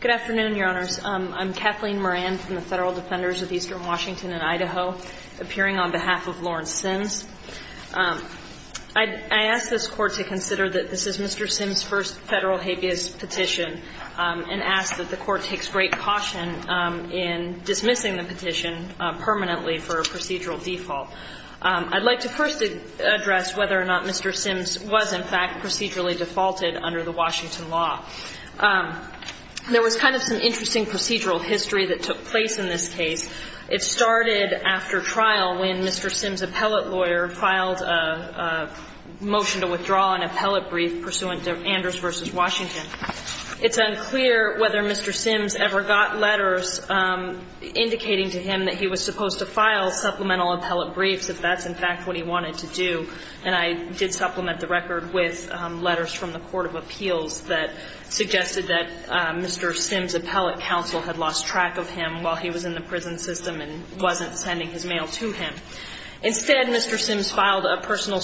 Good afternoon, Your Honors. I'm Kathleen Moran from the Federal Defenders of Eastern Washington and Idaho, appearing on behalf of Lawrence Sims. I ask this Court to consider that this is Mr. Sims' first federal habeas petition and ask that the Court takes great caution in dismissing the petition permanently for a procedural default. I'd like to first address whether or not Mr. Sims was, in fact, procedurally defaulted under the Washington law. There was kind of some interesting procedural history that took place in this case. It started after trial when Mr. Sims' appellate lawyer filed a motion to withdraw an appellate brief pursuant to Anders v. Washington. It's unclear whether Mr. Sims ever got letters indicating to him that he was supposed to file supplemental appellate briefs if that's, in fact, what he wanted to do. And I did supplement the record with letters from the Court of Appeals that suggested that Mr. Sims' appellate counsel had lost track of him while he was in the prison system and wasn't sending his mail to him. Instead, Mr. Sims filed a personal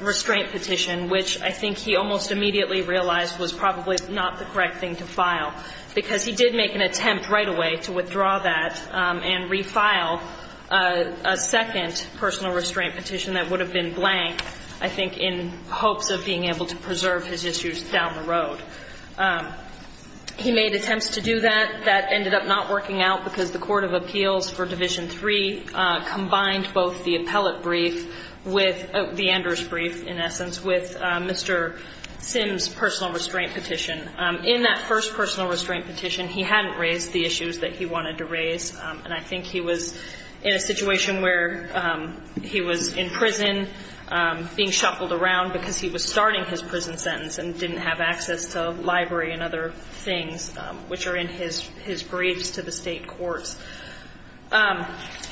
restraint petition, which I think he almost immediately realized was probably not the correct thing to file, because he did make an attempt right away to withdraw that and refile a second personal restraint petition that would have been blank, I think, in hopes of being able to preserve his issues down the road. He made attempts to do that. That ended up not working out because the Court of Appeals for Division III combined both the appellate brief with the Anders brief, in essence, with Mr. Sims' personal restraint petition. In that first personal restraint petition, he hadn't raised the issues that he wanted to raise. And I think he was in a situation where he was in prison, being shuffled around because he was starting his prison sentence and didn't have access to a library and other things, which are in his briefs to the state courts.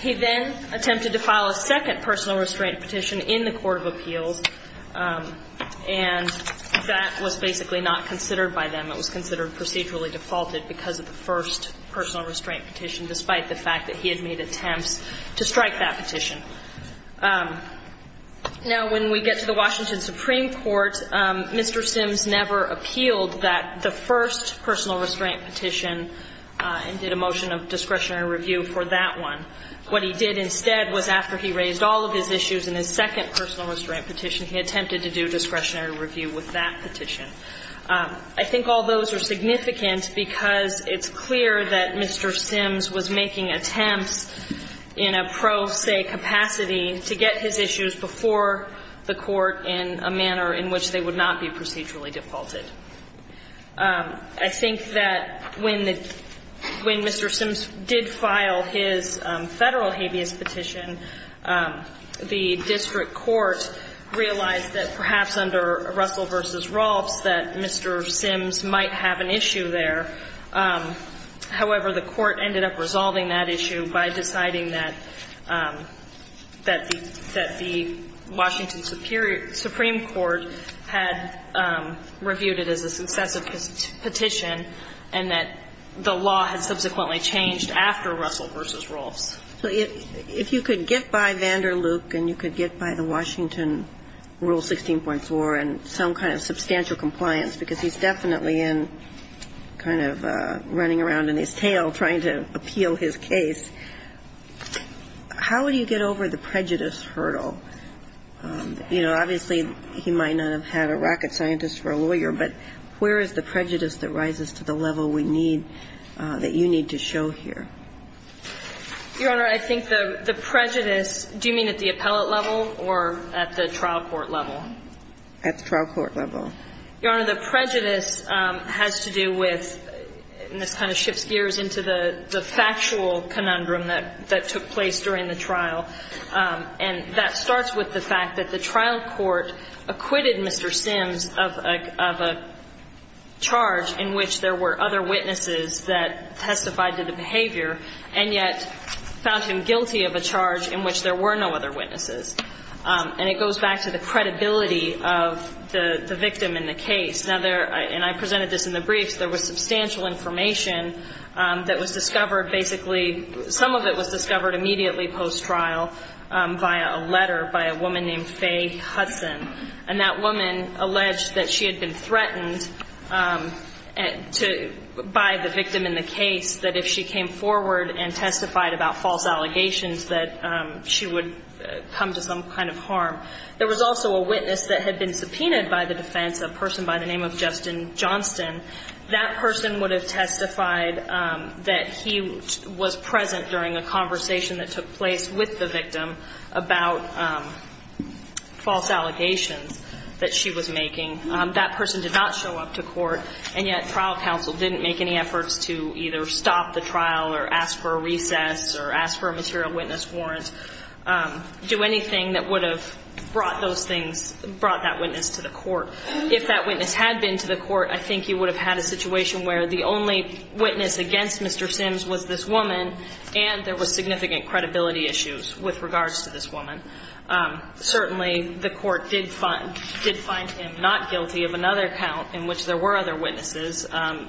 He then attempted to file a second personal restraint petition in the Court of Appeals, and that was basically not considered by them. It was considered procedurally defaulted because of the first personal restraint petition, despite the fact that he had made attempts to strike that petition. Now, when we get to the Washington Supreme Court, Mr. Sims never appealed that, the first personal restraint petition, and did a motion of discretionary review for that one. What he did instead was after he raised all of his issues in his second personal restraint petition, he attempted to do discretionary review with that petition. I think all those are significant because it's clear that Mr. Sims was making attempts in a pro se capacity to get his issues before the Court in a manner in which they would not be procedurally defaulted. I think that when Mr. Sims did file his Federal habeas petition, the district court realized that perhaps under Russell v. Rolfs that Mr. Sims might have an issue there. However, the Court ended up resolving that issue by deciding that the Washington Supreme Court had reviewed it as a successive petition and that the law had subsequently changed after Russell v. Rolfs. So if you could get by Vander Luke and you could get by the Washington Rule 16.4 and some kind of substantial compliance, because he's definitely in kind of running around in his tail trying to appeal his case, how would you get over the prejudice hurdle? Obviously, he might not have had a rocket scientist for a lawyer, but where is the prejudice that rises to the level we need, that you need to show here? Your Honor, I think the prejudice, do you mean at the appellate level or at the trial court level? At the trial court level. Your Honor, the prejudice has to do with, and this kind of shifts gears into the factual conundrum that took place during the trial. And that starts with the fact that the trial court acquitted Mr. Sims of a charge in which there were other witnesses that testified to the behavior and yet found him guilty of a charge in which there were no other witnesses. And it goes back to the credibility of the victim in the case. And I presented this in the briefs. There was substantial information that was discovered basically, some of it was discovered immediately post-trial via a letter by a woman named Faye Hudson. And that woman alleged that she had been threatened by the victim in the case that if she came forward and testified about false allegations that she would come to some kind of harm. There was also a witness that had been subpoenaed by the defense, a person by the name of Justin Johnston. That person would have testified that he was present during a conversation that took place with the victim about false allegations that she was making. That person did not show up to court, and yet trial counsel didn't make any efforts to either stop the trial or ask for a recess or ask for a material witness warrant, do anything that would have brought that witness to the court. If that witness had been to the court, I think you would have had a situation where the only witness against Mr. Sims was this woman, and there was significant credibility issues with regards to this woman. Certainly, the court did find him not guilty of another count in which there were other witnesses. And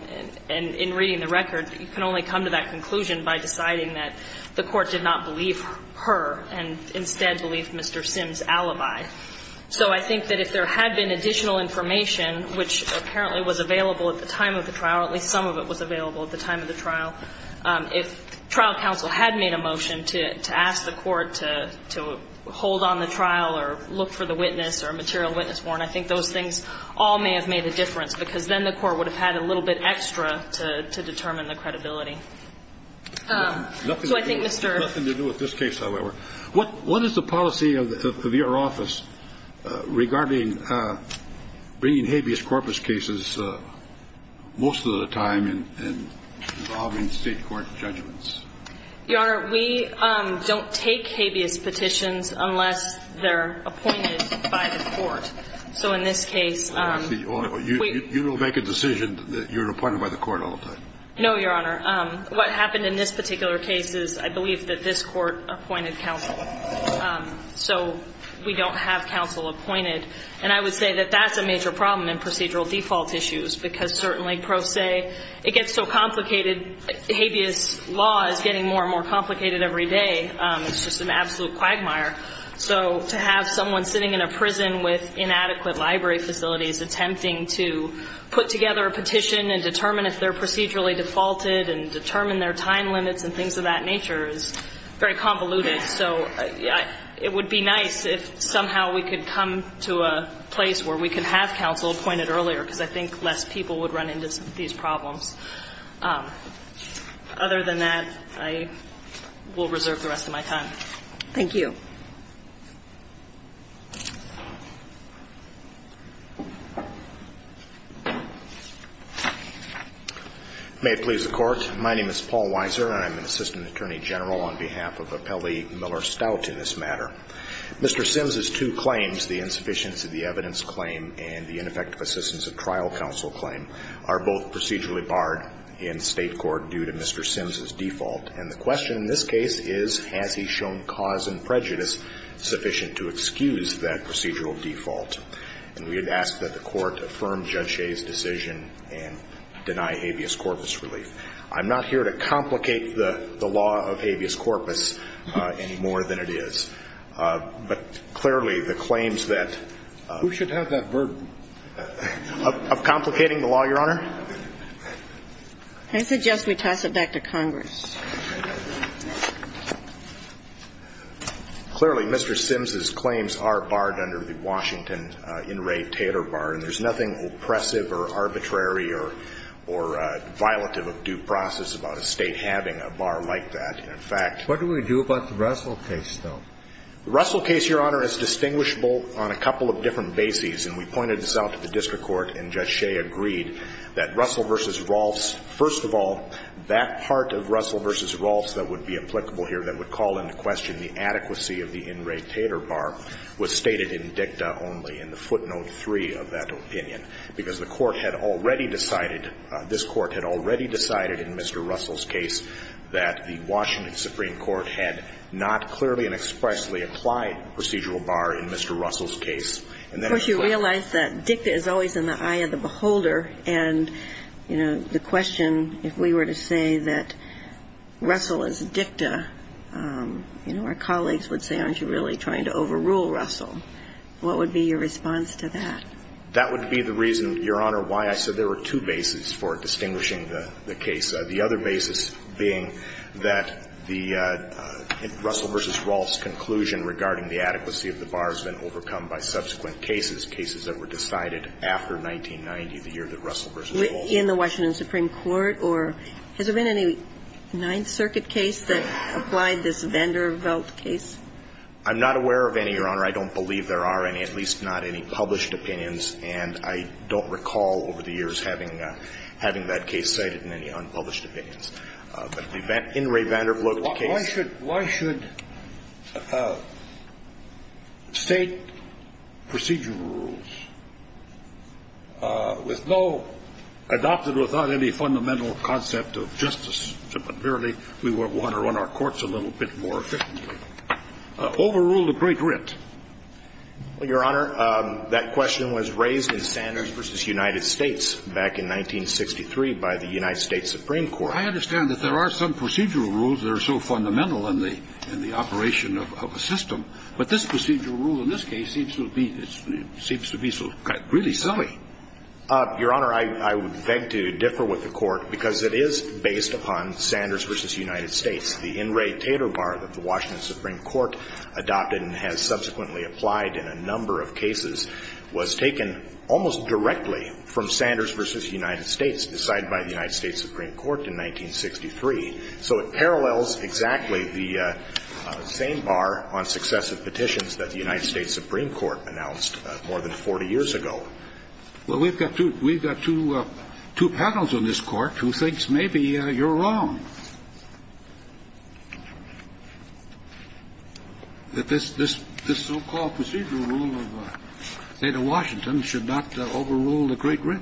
in reading the record, you can only come to that conclusion by deciding that the court did not believe her and instead believed Mr. Sims' alibi. So I think that if there had been additional information, which apparently was available at the time of the trial, at least some of it was available at the time of the trial, if trial counsel had made a motion to ask the court to hold on the trial or look for the witness or a material witness warrant, I think those things all may have made a difference because then the court would have had a little bit extra to determine the credibility. Nothing to do with this case, however. What is the policy of your office regarding bringing habeas corpus cases most of the time and involving state court judgments? Your Honor, we don't take habeas petitions unless they're appointed by the court. So in this case- You don't make a decision that you're appointed by the court all the time. No, Your Honor. What happened in this particular case is I believe that this court appointed counsel. So we don't have counsel appointed. And I would say that that's a major problem in procedural default issues because certainly, pro se, it gets so complicated. Habeas law is getting more and more complicated every day. It's just an absolute quagmire. So to have someone sitting in a prison with inadequate library facilities attempting to put together a petition and determine if they're procedurally defaulted and determine their time limits and things of that nature is very convoluted. So it would be nice if somehow we could come to a place where we could have counsel appointed earlier because I think less people would run into these problems. Other than that, I will reserve the rest of my time. Thank you. May it please the Court. My name is Paul Weiser. I'm an assistant attorney general on behalf of Appellee Miller Stout in this matter. Mr. Sims's two claims, the insufficiency of the evidence claim and the ineffective assistance of trial counsel claim, are both procedurally barred in State court due to Mr. Sims's default. And the question in this case is, has he shown cause and prejudice sufficient to excuse that procedural default? And we would ask that the Court affirm Judge Shea's decision and deny habeas corpus relief. I'm not here to complicate the law of habeas corpus any more than it is. But clearly the claims that ---- Who should have that burden? Of complicating the law, Your Honor? I suggest we toss it back to Congress. Clearly, Mr. Sims's claims are barred under the Washington In Re Tater Bar. And there's nothing oppressive or arbitrary or violative of due process about a State having a bar like that. In fact ---- What do we do about the Russell case, though? The Russell case, Your Honor, is distinguishable on a couple of different bases. And we pointed this out to the district court, and Judge Shea agreed that Russell v. Rolfs that would be applicable here, that would call into question the adequacy of the In Re Tater Bar, was stated in dicta only, in the footnote 3 of that opinion. Because the Court had already decided, this Court had already decided in Mr. Russell's case, that the Washington Supreme Court had not clearly and expressly applied procedural bar in Mr. Russell's case. Of course, you realize that dicta is always in the eye of the beholder. And, you know, the question, if we were to say that Russell is dicta, you know, our colleagues would say, aren't you really trying to overrule Russell? What would be your response to that? That would be the reason, Your Honor, why I said there were two bases for distinguishing the case. The other basis being that the Russell v. Rolfs conclusion regarding the adequacy of the bar has been overcome by subsequent cases, cases that were decided after 1990, the year that Russell v. Rolfs. In the Washington Supreme Court? Or has there been any Ninth Circuit case that applied this Vanderbilt case? I'm not aware of any, Your Honor. I don't believe there are any, at least not any published opinions. And I don't recall over the years having that case cited in any unpublished opinions. But in Ray Vanderbilt's case. Why should State procedural rules, with no, adopted without any fundamental concept of justice, but merely we want to run our courts a little bit more efficiently, overrule the Great Writ? Well, Your Honor, that question was raised in Sanders v. United States back in 1963 by the United States Supreme Court. I understand that there are some procedural rules that are so fundamental in the operation of a system. But this procedural rule in this case seems to be really silly. Your Honor, I would beg to differ with the Court because it is based upon Sanders v. United States. The In Re Tater Bar that the Washington Supreme Court adopted and has subsequently applied in a number of cases was taken almost directly from Sanders v. United States, decided by the United States Supreme Court in 1963. So it parallels exactly the same bar on successive petitions that the United States Supreme Court announced more than 40 years ago. Well, we've got two panels on this Court who thinks maybe you're wrong. That this so-called procedural rule of Theda Washington should not overrule the Great Writ?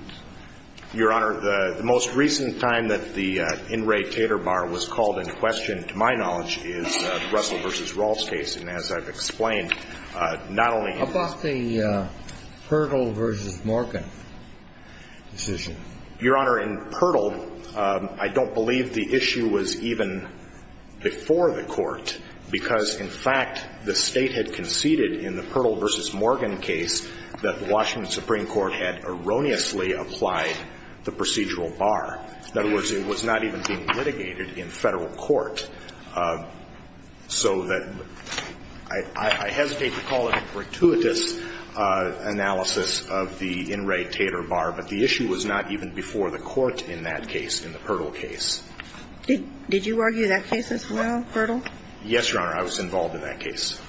Your Honor, the most recent time that the In Re Tater Bar was called in question, to my knowledge, is Russell v. Rawls' case. And as I've explained, not only in this case, but in all of the other cases that I've seen, the issue was even before the Court, because, in fact, the State had conceded in the Pirtle v. Morgan case that the Washington Supreme Court had erroneously applied the procedural bar. In other words, it was not even being litigated in Federal court, so that I hesitate to call it a gratuitous analysis of the In Re Tater Bar, but the issue was not even before the Court in that case, in the Pirtle case. Did you argue that case as well, Pirtle? Yes, Your Honor. I was involved in that case.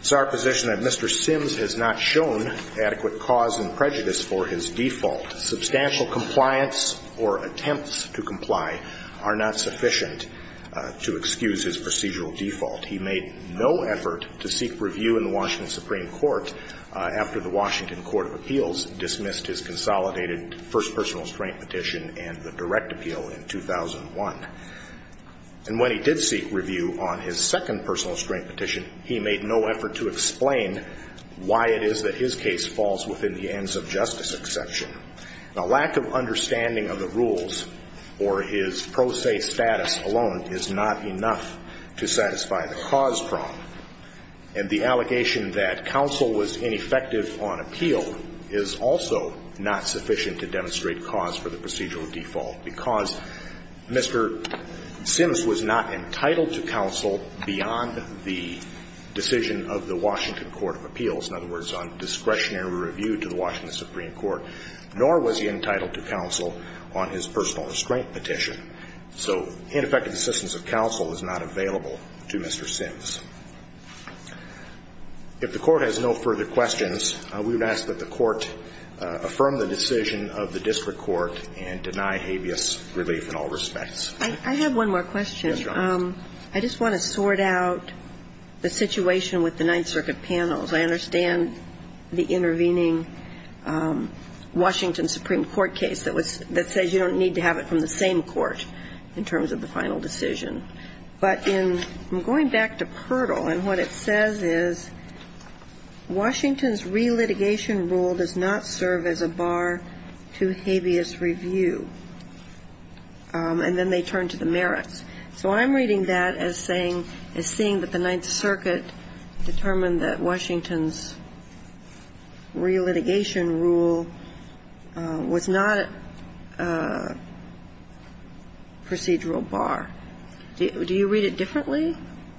It's our position that Mr. Sims has not shown adequate cause and prejudice for his default. Substantial compliance or attempts to comply are not sufficient to excuse his procedural default. He made no effort to seek review in the Washington Supreme Court after the Washington Court of Appeals dismissed his consolidated first personal restraint petition and the direct appeal in 2001. And when he did seek review on his second personal restraint petition, he made no effort to explain why it is that his case falls within the ends of justice exception. A lack of understanding of the rules or his pro se status alone is not enough to satisfy the cause problem. And the allegation that counsel was ineffective on appeal is also not sufficient to demonstrate cause for the procedural default, because Mr. Sims was not entitled to counsel beyond the decision of the Washington Court of Appeals, in other words, on discretionary review to the Washington Supreme Court, nor was he entitled to counsel on his personal restraint petition. So ineffective assistance of counsel is not available to Mr. Sims. If the court has no further questions, we would ask that the court affirm the decision of the district court and deny habeas relief in all respects. Ms. Johns. I have one more question. Ms. Johns. I just want to sort out the situation with the Ninth Circuit panels. I understand the intervening Washington Supreme Court case that says you don't need to have it from the same court in terms of the final decision. But in going back to Pertle, and what it says is Washington's relitigation rule does not serve as a bar to habeas review. And then they turn to the merits. So I'm reading that as saying, as seeing that the Ninth Circuit determined that Washington's relitigation rule was not a procedural bar. Do you read it differently?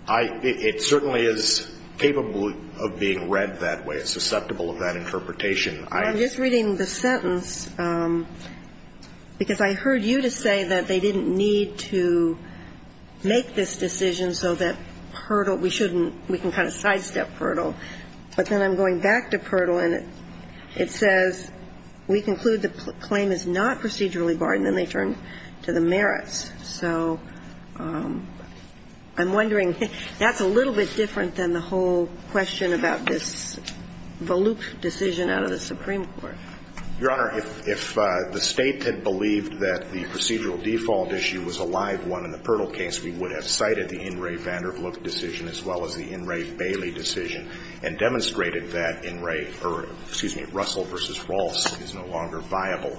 I – it certainly is capable of being read that way, susceptible of that interpretation. I'm just reading the sentence because I heard you to say that they didn't need to make this decision so that Pertle – we shouldn't – we can kind of sidestep Pertle. But then I'm going back to Pertle, and it says we conclude the claim is not procedurally barred, and then they turn to the merits. So I'm wondering, that's a little bit different than the whole question about this volute decision out of the Supreme Court. Your Honor, if the State had believed that the procedural default issue was a live one in the Pertle case, we would have cited the In re. Vandervloot decision as well as the In re. Bailey decision and demonstrated that In re. – or, excuse me, Russell v. Ross is no longer viable.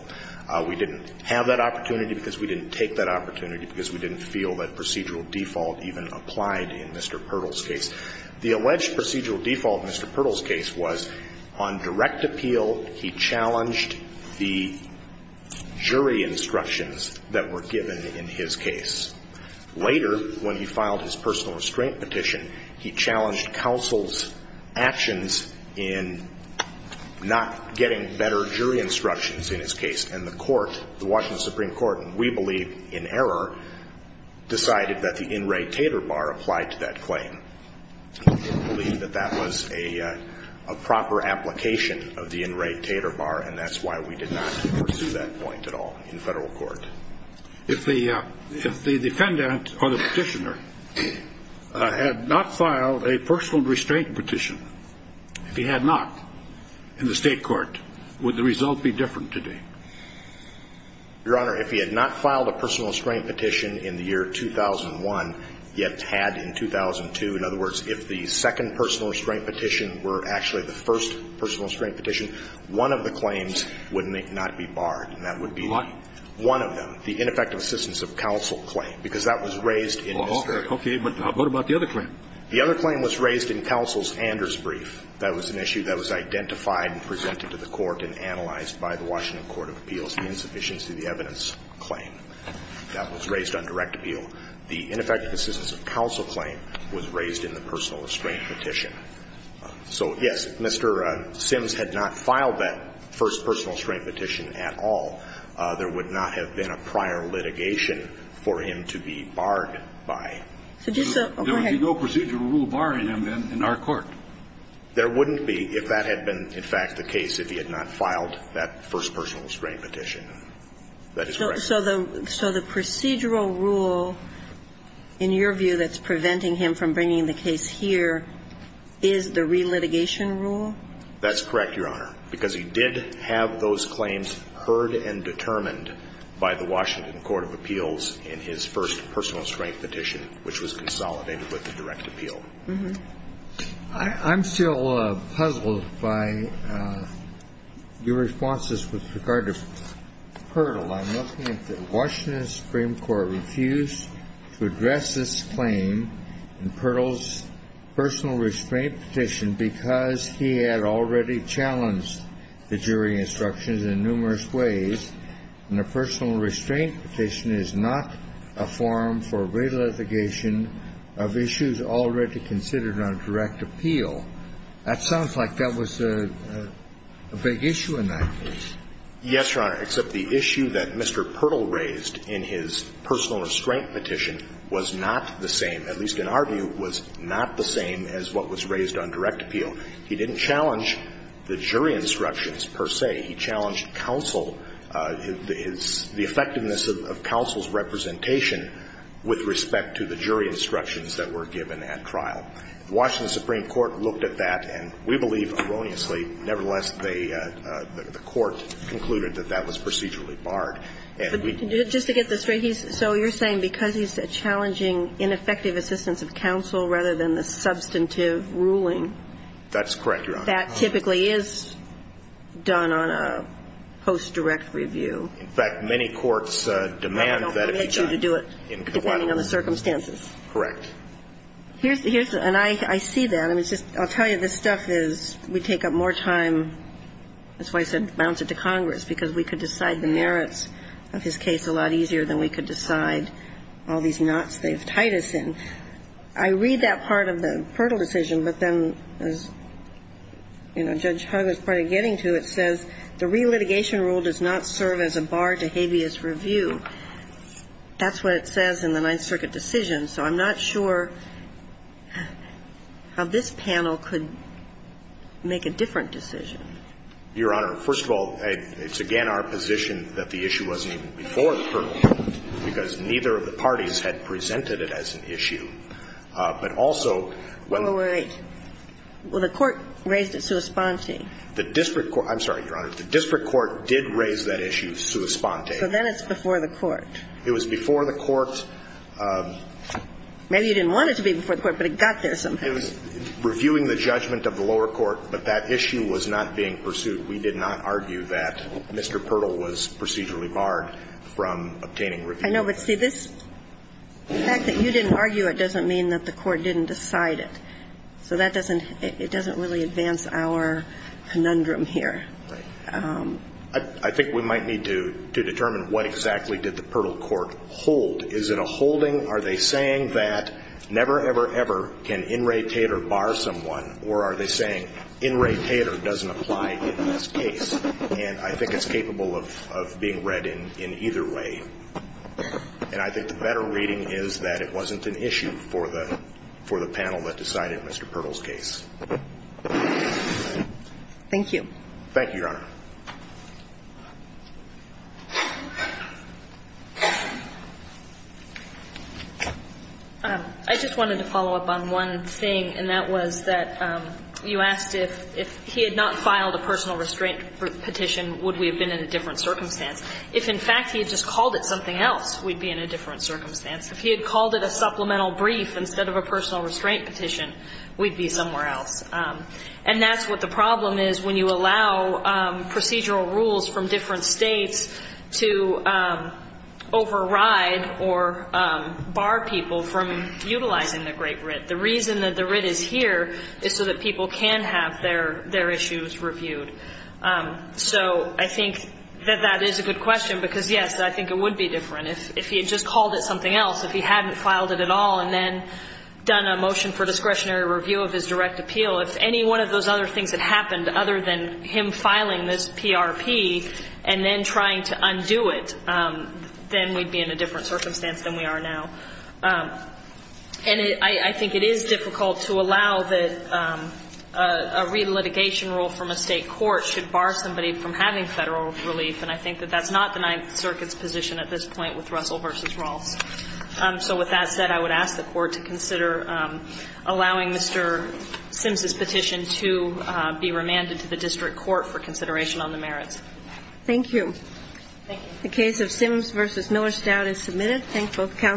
We didn't have that opportunity because we didn't take that opportunity because we didn't feel that procedural default even applied in Mr. Pertle's case. The alleged procedural default in Mr. Pertle's case was on direct appeal, he challenged the jury instructions that were given in his case. Later, when he filed his personal restraint petition, he challenged counsel's actions in not getting better jury instructions in his case. And the court, the Washington Supreme Court, and we believe in error, decided that the In re. Tater Bar applied to that claim. We believe that that was a proper application of the In re. Tater Bar, and that's why we did not pursue that point at all in federal court. If the defendant or the petitioner had not filed a personal restraint petition, if he had not in the state court, would the result be different today? Your Honor, if he had not filed a personal restraint petition in the year 2001, yet had in 2002, in other words, if the second personal restraint petition were actually the first personal restraint petition, one of the claims would not be barred, and that would be one of them, the ineffective assistance of counsel claim, because that was raised in Mr. Tater Bar. Okay. But what about the other claim? The other claim was raised in counsel's Anders brief. That was an issue that was identified and presented to the court and analyzed by the Washington Court of Appeals, the insufficiency of the evidence claim. That was raised on direct appeal. The ineffective assistance of counsel claim was raised in the personal restraint petition. So, yes, Mr. Sims had not filed that first personal restraint petition at all. There would not have been a prior litigation for him to be barred by. There would be no procedural rule barring him in our court. There wouldn't be, if that had been, in fact, the case, if he had not filed that first personal restraint petition. That is correct. So the procedural rule, in your view, that's preventing him from bringing the case here is the relitigation rule? That's correct, Your Honor, because he did have those claims heard and determined by the Washington Court of Appeals in his first personal restraint petition, which was consolidated with the direct appeal. I'm still puzzled by your responses with regard to Pirtle. I'm looking at the Washington Supreme Court refused to address this claim in Pirtle's personal restraint petition because he had already challenged the jury instructions in numerous ways. And the personal restraint petition is not a forum for relitigation of issues already considered on direct appeal. That sounds like that was a big issue in that case. Yes, Your Honor, except the issue that Mr. Pirtle raised in his personal restraint petition was not the same, at least in our view, was not the same as what was raised on direct appeal. He didn't challenge the jury instructions, per se. He challenged counsel, the effectiveness of counsel's representation with respect to the jury instructions that were given at trial. The Washington Supreme Court looked at that, and we believe erroneously, nevertheless, the court concluded that that was procedurally barred. Just to get this straight, so you're saying because he's challenging ineffective assistance of counsel rather than the substantive ruling. That's correct, Your Honor. That typically is done on a post-direct review. In fact, many courts demand that it be done. That's correct. Depending on the circumstances. Correct. And I see that. I'll tell you, this stuff is, we take up more time. That's why I said bounce it to Congress, because we could decide the merits of his case a lot easier than we could decide all these knots they've tied us in. I read that part of the Pirtle decision, but then as, you know, Judge Hugg is probably getting to, it says the relitigation rule does not serve as a bar to habeas review. That's what it says in the Ninth Circuit decision, so I'm not sure how this panel could make a different decision. Your Honor, first of all, it's again our position that the issue wasn't even before the Pirtle, because neither of the parties had presented it as an issue. But also when the ---- All right. Well, the court raised it sua sponte. The district court ---- I'm sorry, Your Honor. The district court did raise that issue sua sponte. Okay. So then it's before the court. It was before the court. Maybe you didn't want it to be before the court, but it got there somehow. It was reviewing the judgment of the lower court, but that issue was not being pursued. We did not argue that Mr. Pirtle was procedurally barred from obtaining review. I know, but see, this, the fact that you didn't argue it doesn't mean that the court didn't decide it. So that doesn't, it doesn't really advance our conundrum here. Right. I think we might need to determine what exactly did the Pirtle court hold. Is it a holding? Are they saying that never, ever, ever can In re Tater bar someone, or are they saying In re Tater doesn't apply in this case? And I think it's capable of being read in either way. And I think the better reading is that it wasn't an issue for the panel that decided Mr. Pirtle's case. Thank you. Thank you, Your Honor. I just wanted to follow up on one thing, and that was that you asked if he had not filed a personal restraint petition, would we have been in a different circumstance? If, in fact, he had just called it something else, we'd be in a different circumstance. If he had called it a supplemental brief instead of a personal restraint petition, we'd be somewhere else. And that's what the problem is when you allow procedural rules from different states to override or bar people from utilizing the great writ. The reason that the writ is here is so that people can have their issues reviewed. So I think that that is a good question, because, yes, I think it would be different. If he had just called it something else, if he hadn't filed it at all and then done a motion for discretionary review of his direct appeal, if any one of those other things had happened other than him filing this PRP and then trying to undo it, then we'd be in a different circumstance than we are now. And I think it is difficult to allow that a relitigation rule from a state court should bar somebody from having Federal relief, and I think that that's not the Ninth Circuit's position at this point with Russell v. Ross. So with that said, I would ask the Court to consider allowing Mr. Sims's petition to be remanded to the district court for consideration on the merits. Thank you. Thank you. The case of Sims v. Miller-Stout is submitted. Thank both counsels.